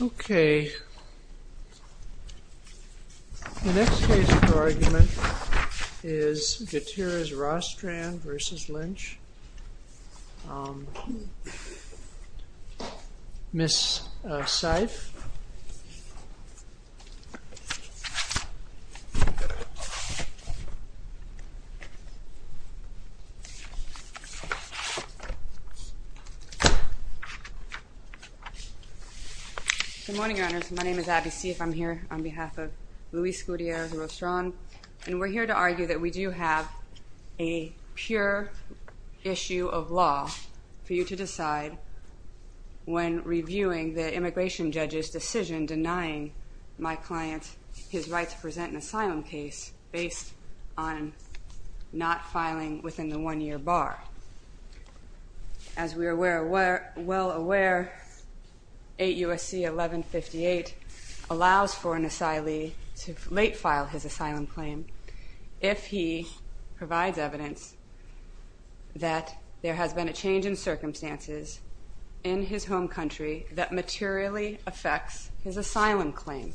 Okay The next case for argument is Gutierrez-Rostran versus Lynch Miss Seif Good morning, Your Honors. My name is Abby Seif. I'm here on behalf of Luis Gutierrez-Rostran, and we're here to argue that we do have a pure issue of law for you to decide when reviewing the immigration judge's decision denying my client his right to present an asylum case based on not filing within the one-year bar. As we are well aware, 8 U.S.C. 1158 allows for an asylee to late-file his asylum claim if he provides evidence that there has been a change in circumstances in his home country that materially affects his asylum claim.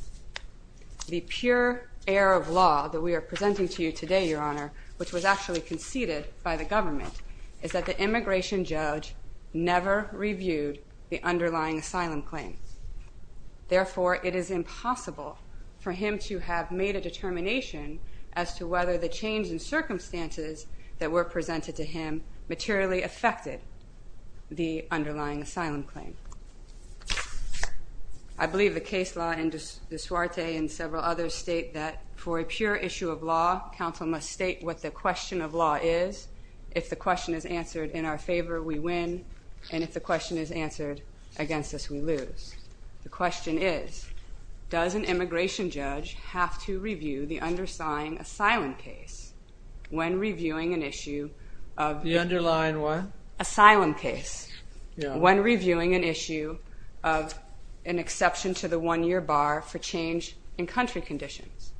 The pure error of law that we are presenting to you today, Your Honor, which was actually conceded by the government, is that the immigration judge never reviewed the underlying asylum claim. Therefore, it is impossible for him to have made a determination as to whether the change in circumstances that were presented to him materially affected the underlying asylum claim. I believe the case law and the soiree and several others state that for a pure issue of law, counsel must state what the question of law is. If the question is answered in our favor, we win, and if the question is answered against us, we lose. The question is, does an immigration judge have to review the underlying asylum case when reviewing an issue of an exception to the one-year bar for change in country conditions?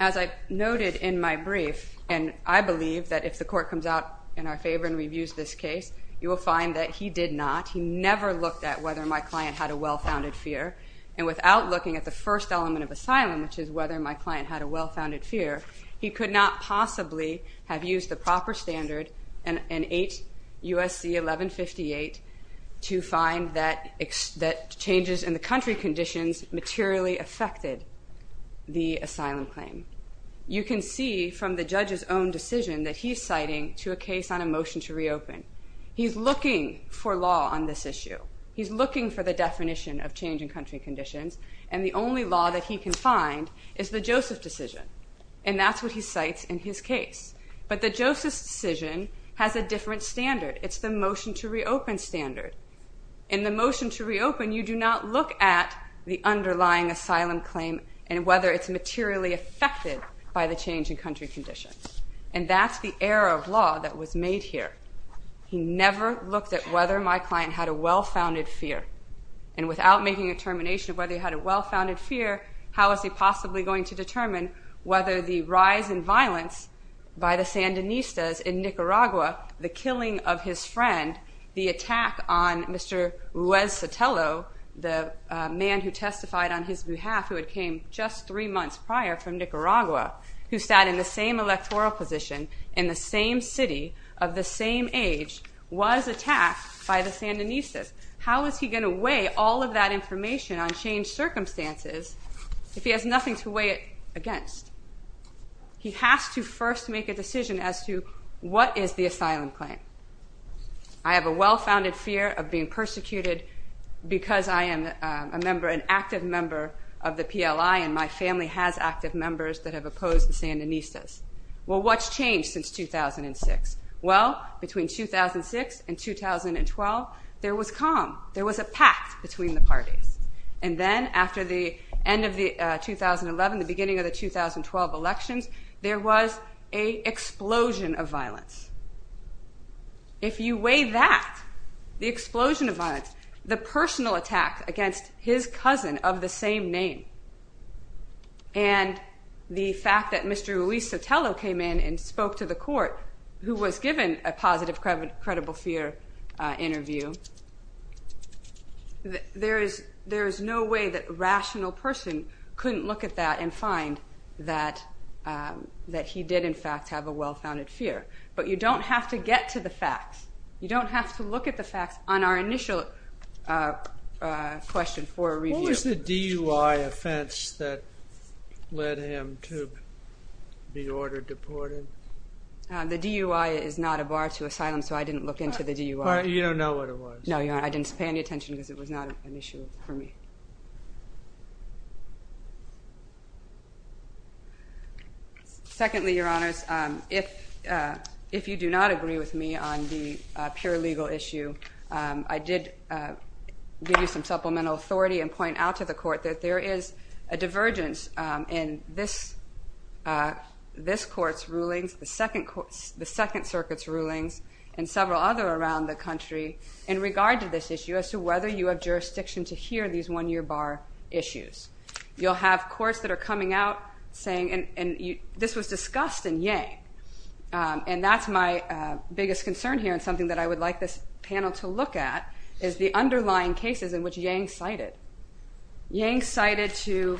As I noted in my brief, and I believe that if the court comes out in our favor and reviews this case, you will find that he did not, he never looked at whether my client had a well-founded fear, and without looking at the first element of asylum, which is whether my client had a well-founded fear, he could not possibly have used the proper standard in 8 U.S.C. 1158 to find that changes in the country conditions materially affected the asylum claim. You can see from the judge's own decision that he's citing to a case on a motion to reopen. He's looking for law on this issue. He's looking for the definition of change in country conditions, and the only law that he can find is the Joseph decision, and that's what he cites in his case. But the Joseph decision has a different standard. It's the motion to reopen standard. In the motion to reopen, you do not look at the underlying asylum claim and whether it's materially affected by the change in country conditions, and that's the error of law that was made here. He never looked at whether my client had a well-founded fear, and without making a determination of whether he had a well-founded fear, how is he possibly going to determine whether the rise in violence by the Sandinistas in Nicaragua, the killing of his friend, the attack on Mr. Ruiz Sotelo, the man who testified on his behalf who had came just three months prior from Nicaragua, who sat in the same electoral position in the same city of the same age, was attacked by the Sandinistas? How is he going to weigh all of that information on changed circumstances if he has nothing to weigh it against? He has to first make a decision as to what is the asylum claim. I have a well-founded fear of being persecuted because I am an active member of the PLI and my family has active members that have opposed the Sandinistas. Well, what's changed since 2006? Well, between 2006 and 2012, there was calm. There was a pact between the parties, and then after the end of 2011, the beginning of the 2012 elections, there was an explosion of violence. If you weigh that, the explosion of violence, the personal attack against his cousin of the same name, and the fact that Mr. Ruiz Sotelo came in and spoke to the court who was given a positive credible fear interview, there is no way that a rational person couldn't look at that and find that he did in fact have a well-founded fear. But you don't have to get to the facts. You don't have to look at the facts on our initial question for a review. What was the DUI offense that led him to be ordered deported? The DUI is not a bar to asylum, so I didn't look into the DUI. You don't know what it was? No, I didn't pay any attention because it was not an issue for me. Secondly, Your Honors, if you do not agree with me on the pure legal issue, I did give you some supplemental authority and point out to the court that there is a divergence in this court's rulings, the Second Circuit's rulings, and several other around the country in regard to this issue as to whether you have jurisdiction to hear these one-year bar issues. You'll have courts that are coming out saying, and this was discussed in Yang, and that's my biggest concern here and something that I would like this panel to look at is the underlying cases in which Yang cited. Yang cited to,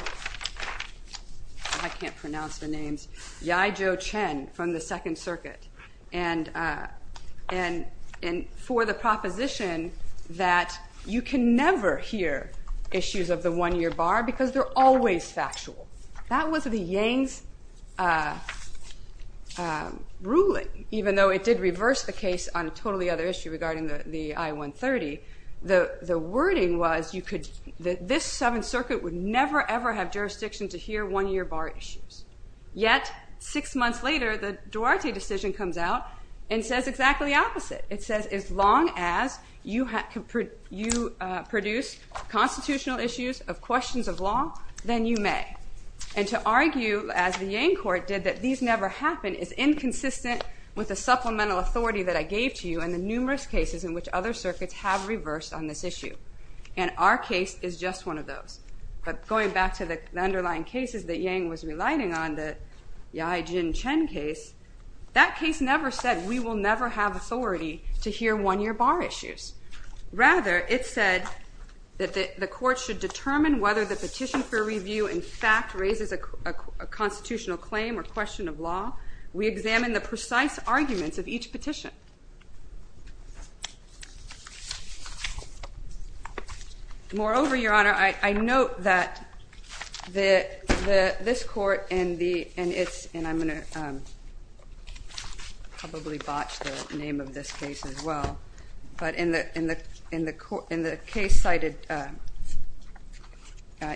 I can't pronounce the names, Yai Zhou Chen from the Second Circuit, and for the proposition that you can never hear issues of the one-year bar because they're always factual. That was the Yang's ruling, even though it did reverse the case on a totally other issue regarding the I-130. The wording was that this Seventh Circuit would never, ever have jurisdiction to hear one-year bar issues. Yet, six months later, the Duarte decision comes out and says exactly the opposite. It says as long as you produce constitutional issues of questions of law, then you may. And to argue, as the Yang court did, that these never happen is inconsistent with the supplemental authority that I gave to you and the numerous cases in which other circuits have reversed on this issue. And our case is just one of those. But going back to the underlying cases that Yang was relighting on, the Yai Zhou Chen case, that case never said we will never have authority to hear one-year bar issues. Rather, it said that the court should determine whether the petition for review in fact raises a constitutional claim or question of law. We examine the precise arguments of each petition. Moreover, Your Honor, I note that this court, and I'm going to probably botch the name of this case as well, but in the case cited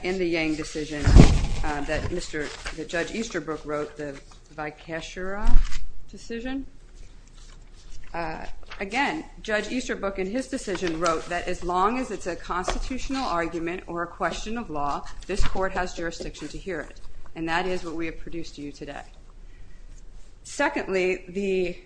in the Yang decision that Judge Easterbrook wrote, the Vikeshara decision, again, Judge Easterbrook in his decision wrote that as long as it's a constitutional argument or a question of law, this court has jurisdiction to hear it. And that is what we have produced to you today. Secondly, the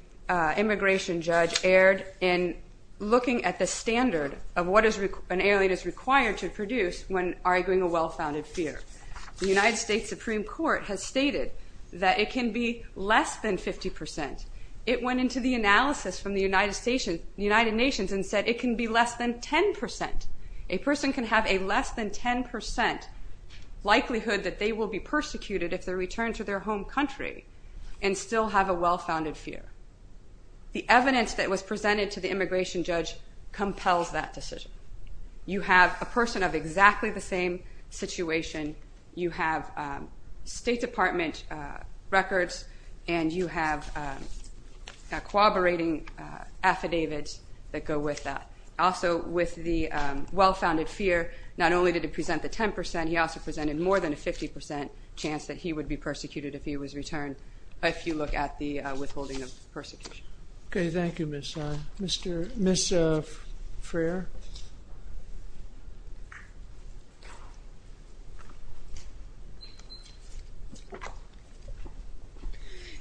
immigration judge erred in looking at the standard of what an alien is required to produce when arguing a well-founded fear. The United States Supreme Court has stated that it can be less than 50%. It went into the analysis from the United Nations and said it can be less than 10%. A person can have a less than 10% likelihood that they will be persecuted if they return to their home country and still have a well-founded fear. The evidence that was presented to the immigration judge compels that decision. You have a person of exactly the same situation. You have State Department records, and you have corroborating affidavits that go with that. Also, with the well-founded fear, not only did it present the 10%, he also presented more than a 50% chance that he would be persecuted if he was returned if you look at the withholding of persecution. Okay, thank you, Ms. Stein. Ms. Freer?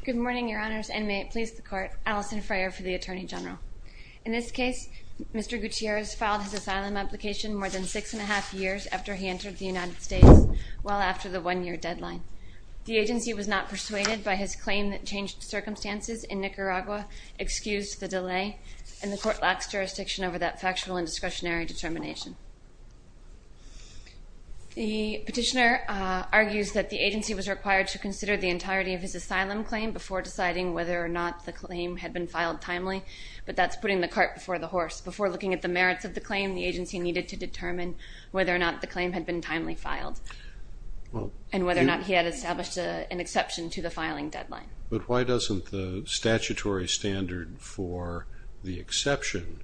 Good morning, Your Honors, and may it please the Court. Allison Freer for the Attorney General. In this case, Mr. Gutierrez filed his asylum application more than six and a half years after he entered the United States, well after the one-year deadline. The agency was not persuaded by his claim that changed circumstances in Nicaragua, excused the delay, and the Court lacks jurisdiction over that factual and discretionary determination. The petitioner argues that the agency was required to consider the entirety of his asylum claim before deciding whether or not the claim had been filed timely, but that's putting the cart before the horse. Before looking at the merits of the claim, the agency needed to determine whether or not the claim had been timely filed and whether or not he had established an exception to the filing deadline. But why doesn't the statutory standard for the exception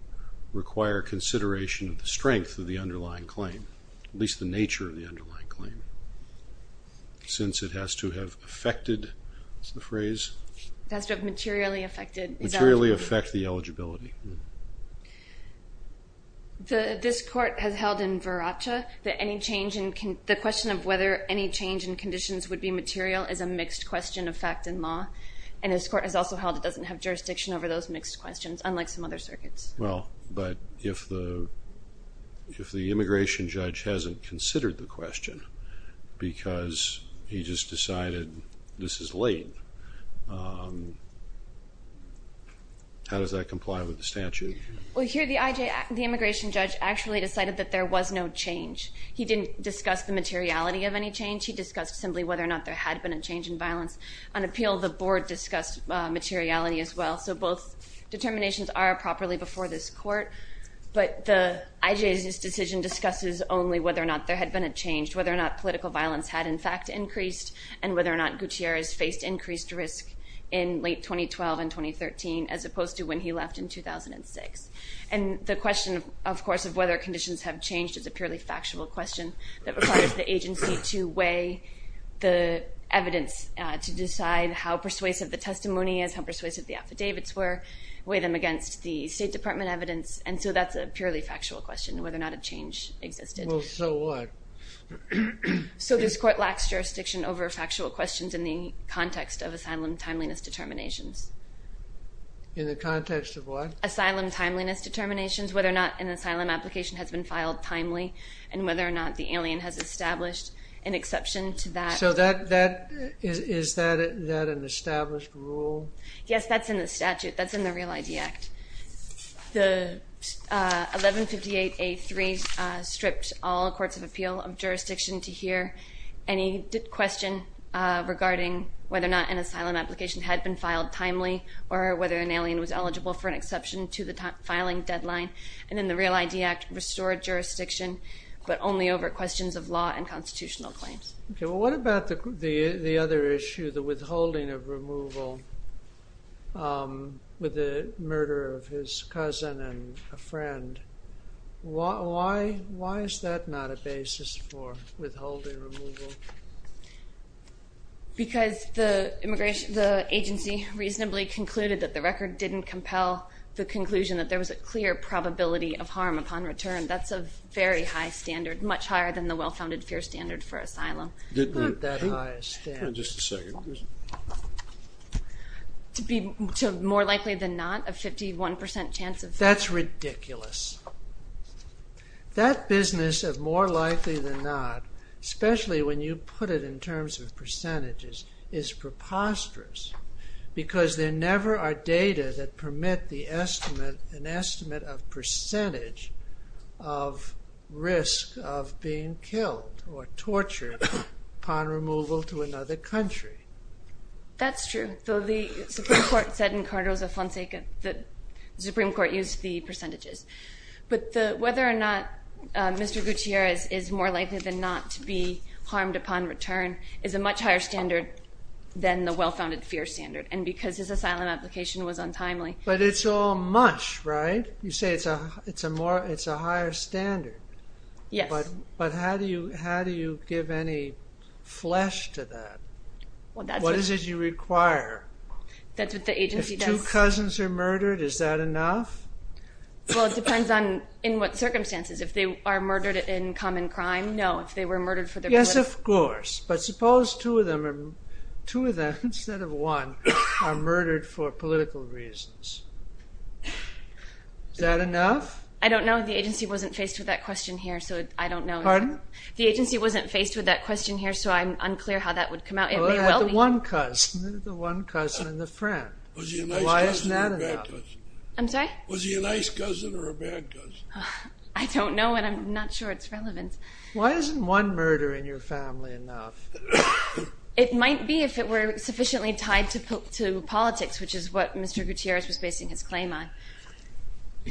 require consideration of the strength of the underlying claim, at least the nature of the underlying claim, since it has to have affected, what's the phrase? It has to have materially affected. Materially affect the eligibility. This Court has held in Viracha that the question of whether any change in conditions would be material is a mixed question of fact and law, and this Court has also held it doesn't have jurisdiction over those mixed questions, unlike some other circuits. Well, but if the immigration judge hasn't considered the question because he just decided this is late, how does that comply with the statute? Well, here the immigration judge actually decided that there was no change. He didn't discuss the materiality of any change. He discussed simply whether or not there had been a change in violence. On appeal, the Board discussed materiality as well. So both determinations are properly before this Court. But the IJ's decision discusses only whether or not there had been a change, whether or not political violence had in fact increased, and whether or not Gutierrez faced increased risk in late 2012 and 2013, as opposed to when he left in 2006. And the question, of course, of whether conditions have changed is a purely factual question that requires the agency to weigh the evidence to decide how persuasive the testimony is, how persuasive the affidavits were, weigh them against the State Department evidence. And so that's a purely factual question, whether or not a change existed. Well, so what? So this Court lacks jurisdiction over factual questions in the context of asylum timeliness determinations. In the context of what? Asylum timeliness determinations, whether or not an asylum application has been filed timely, and whether or not the alien has established an exception to that. So is that an established rule? Yes, that's in the statute. That's in the Real ID Act. The 1158A3 stripped all courts of appeal of jurisdiction to hear any question regarding whether or not an asylum application had been filed timely or whether an alien was eligible for an exception to the filing deadline. And in the Real ID Act, restored jurisdiction, but only over questions of law and constitutional claims. Okay. Well, what about the other issue, the withholding of removal with the murder of his cousin and a friend? Why is that not a basis for withholding removal? Because the agency reasonably concluded that the record didn't compel the conclusion that there was a clear probability of harm upon return. That's a very high standard, much higher than the well-founded fear standard for asylum. Not that high a standard. Just a second. To be more likely than not, a 51% chance of... That's ridiculous. That business of more likely than not, especially when you put it in terms of percentages, is preposterous because there never are data that permit the estimate, an estimate of percentage of risk of being killed or tortured upon removal to another country. That's true. Though the Supreme Court said in Cardozo-Fonseca that the Supreme Court used the percentages. But whether or not Mr. Gutierrez is more likely than not to be harmed upon return is a much higher standard than the well-founded fear standard. And because his asylum application was untimely... But it's all mush, right? You say it's a higher standard. Yes. But how do you give any flesh to that? What is it you require? That's what the agency does. If two cousins are murdered, is that enough? Well, it depends on in what circumstances. If they are murdered in common crime, no. If they were murdered for their political... Yes, of course. But suppose two of them, two of them instead of one, are murdered for political reasons. Is that enough? I don't know. The agency wasn't faced with that question here, so I don't know. Pardon? The agency wasn't faced with that question here, so I'm unclear how that would come out. It may well be... The one cousin, the one cousin and the friend. Why isn't that enough? Was he a nice cousin or a bad cousin? I'm sorry? Was he a nice cousin or a bad cousin? I don't know and I'm not sure it's relevant. Why isn't one murder in your family enough? It might be if it were sufficiently tied to politics, which is what Mr. Gutierrez was basing his claim on.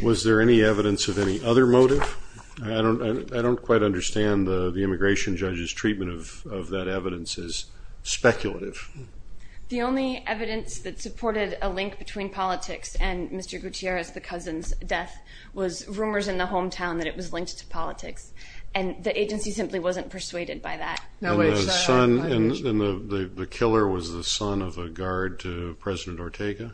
Was there any evidence of any other motive? I don't quite understand the immigration judge's treatment of that evidence as speculative. The only evidence that supported a link between politics and Mr. Gutierrez, the cousin's death, and the agency simply wasn't persuaded by that. And the killer was the son of a guard to President Ortega?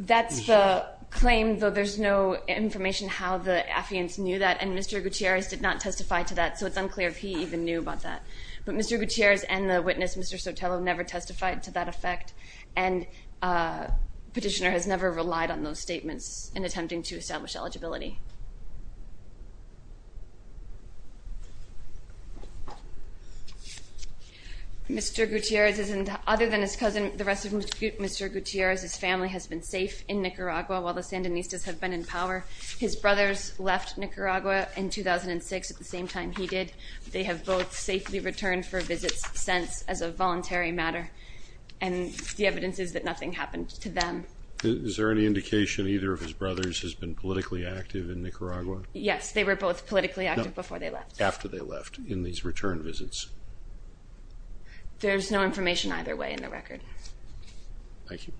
That's the claim, though there's no information how the affiance knew that, and Mr. Gutierrez did not testify to that, so it's unclear if he even knew about that. But Mr. Gutierrez and the witness, Mr. Sotelo, never testified to that effect, and Petitioner has never relied on those statements in attempting to establish eligibility. Mr. Gutierrez, other than his cousin, the rest of Mr. Gutierrez's family has been safe in Nicaragua while the Sandinistas have been in power. His brothers left Nicaragua in 2006 at the same time he did. They have both safely returned for visits since as a voluntary matter. And the evidence is that nothing happened to them. Is there any indication either of his brothers has been politically active in Nicaragua? Yes, they were both politically active before they left. No, after they left, in these return visits. There's no information either way in the record. Thank you.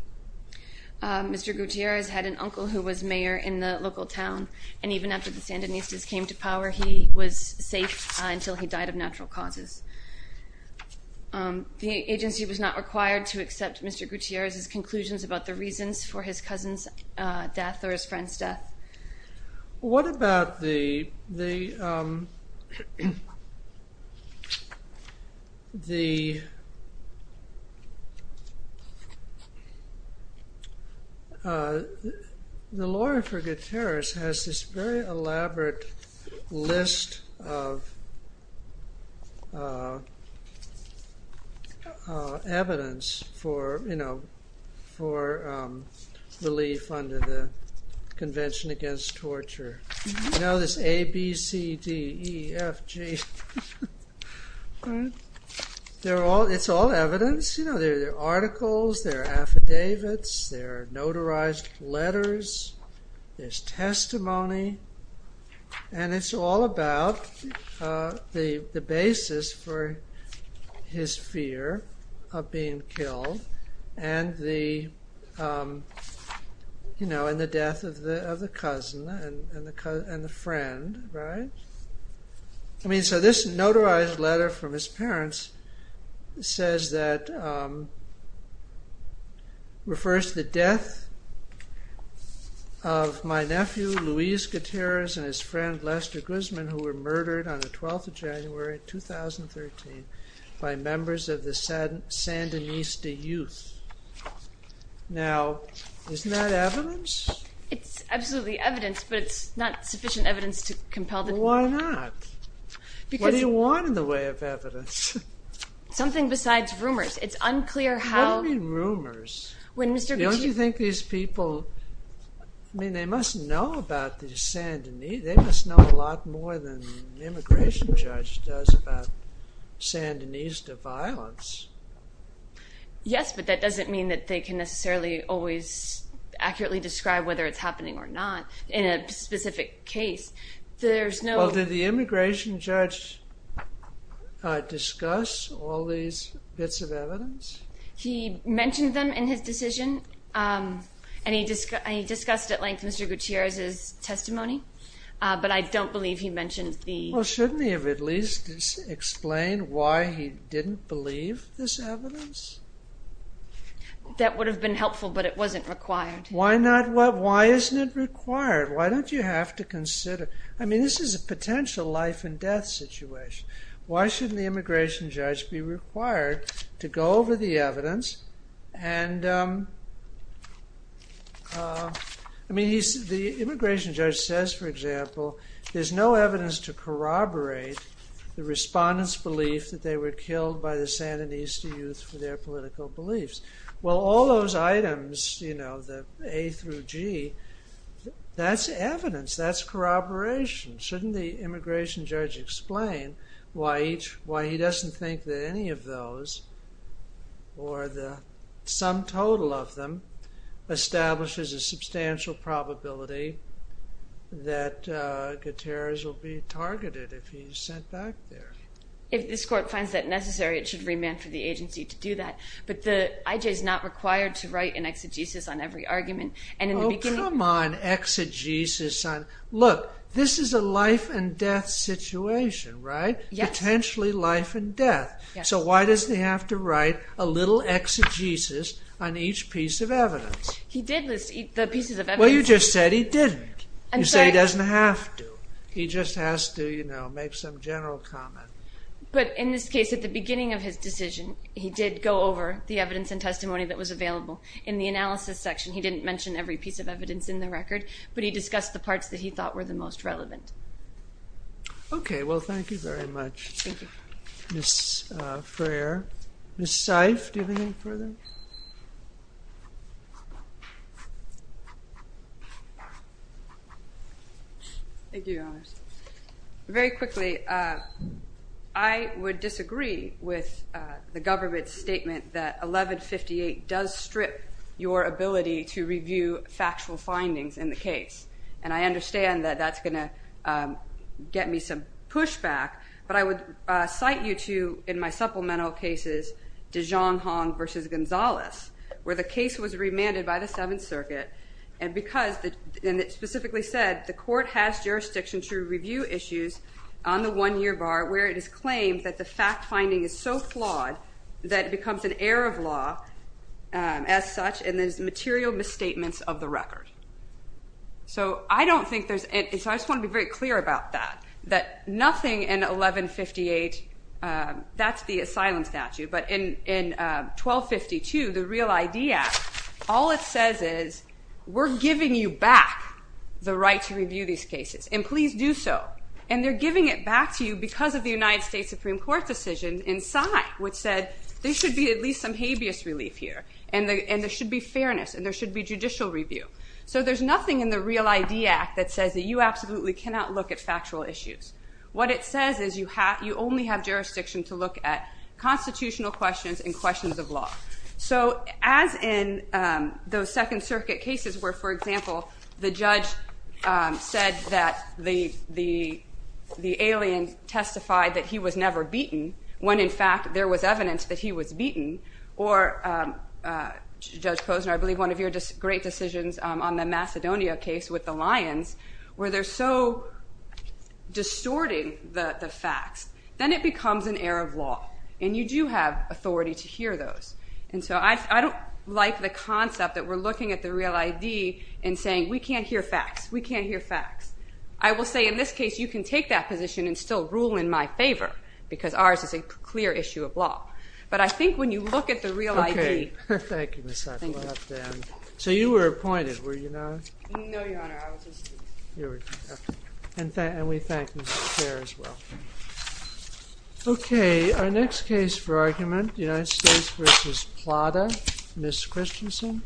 Mr. Gutierrez had an uncle who was mayor in the local town, and even after the Sandinistas came to power he was safe until he died of natural causes. The agency was not required to accept Mr. Gutierrez's conclusions about the reasons for his cousin's death or his friend's death. What about the... The law for Gutierrez has this very elaborate list of evidence for relief under the Convention Against Torture. You know this A, B, C, D, E, F, G... It's all evidence. There are articles, there are affidavits, there are notarized letters, there's testimony, and it's all about the basis for his fear of being killed and the death of the cousin and the friend, right? I mean, so this notarized letter from his parents says that... refers to the death of my nephew, Luis Gutierrez, and his friend, Lester Guzman, who were murdered on the 12th of January, 2013, by members of the Sandinista youth. Now, isn't that evidence? It's absolutely evidence, but it's not sufficient evidence to compel the... Well, why not? What do you want in the way of evidence? Something besides rumors. It's unclear how... What do you mean, rumors? Don't you think these people... I mean, they must know about the Sandinista... They must know a lot more than an immigration judge does about Sandinista violence. Yes, but that doesn't mean that they can necessarily always accurately describe whether it's happening or not in a specific case. There's no... Well, did the immigration judge discuss all these bits of evidence? He mentioned them in his decision, and he discussed at length Mr. Gutierrez's testimony, but I don't believe he mentioned the... Well, shouldn't he have at least explained why he didn't believe this evidence? That would have been helpful, but it wasn't required. Why isn't it required? Why don't you have to consider... I mean, this is a potential life-and-death situation. Why shouldn't the immigration judge be required to go over the evidence and... I mean, the immigration judge says, for example, there's no evidence to corroborate the respondents' belief that they were killed by the Sandinista youth for their political beliefs. Well, all those items, you know, the A through G, that's evidence, that's corroboration. Shouldn't the immigration judge explain why he doesn't think that any of those, or the sum total of them, establishes a substantial probability that Gutierrez will be targeted if he's sent back there? If this court finds that necessary, it should remand for the agency to do that, but the IJ is not required to write an exegesis on every argument, and in the beginning... Oh, come on, exegesis on... Look, this is a life-and-death situation, right? Yes. Potentially life-and-death. So why does he have to write a little exegesis on each piece of evidence? He did list the pieces of evidence. Well, you just said he didn't. I'm sorry. You said he doesn't have to. He just has to, you know, make some general comment. But in this case, at the beginning of his decision, he did go over the evidence and testimony that was available. In the analysis section, he didn't mention every piece of evidence in the record, but he discussed the parts that he thought were the most relevant. Okay, well, thank you very much. Thank you. Ms. Freer. Ms. Seif, do you have anything further? Thank you, Your Honours. Very quickly, I would disagree with the government's statement that 1158 does strip your ability to review factual findings in the case. And I understand that that's going to get me some pushback, but I would cite you to, in my supplemental cases, de Jonghong v. Gonzales, where the case was remanded by the Seventh Circuit, and it specifically said the court has jurisdiction to review issues on the one-year bar, where it is claimed that the fact-finding is so flawed that it becomes an error of law as such, and there's material misstatements of the record. So I don't think there's any... So I just want to be very clear about that, that nothing in 1158... That's the asylum statute, but in 1252, the Real ID Act, all it says is, we're giving you back the right to review these cases, and please do so. And they're giving it back to you because of the United States Supreme Court decision in Psy, which said there should be at least some habeas relief here, and there should be fairness, and there should be judicial review. So there's nothing in the Real ID Act that says that you absolutely cannot look at factual issues. What it says is you only have jurisdiction to look at constitutional questions and questions of law. So as in those Second Circuit cases, where, for example, the judge said that the alien testified that he was never beaten, when in fact there was evidence that he was beaten, or, Judge Posner, I believe one of your great decisions on the Macedonia case with the lions, where they're so distorting the facts, then it becomes an error of law, and you do have authority to hear those. And so I don't like the concept that we're looking at the Real ID and saying we can't hear facts, we can't hear facts. I will say in this case you can take that position and still rule in my favor because ours is a clear issue of law. But I think when you look at the Real ID... Okay. Thank you, Ms. Sattler. So you were appointed, were you not? No, Your Honor, I was a student. And we thank you for your care as well. Okay, our next case for argument, United States v. Plata, Ms. Christensen. Ms. Christensen.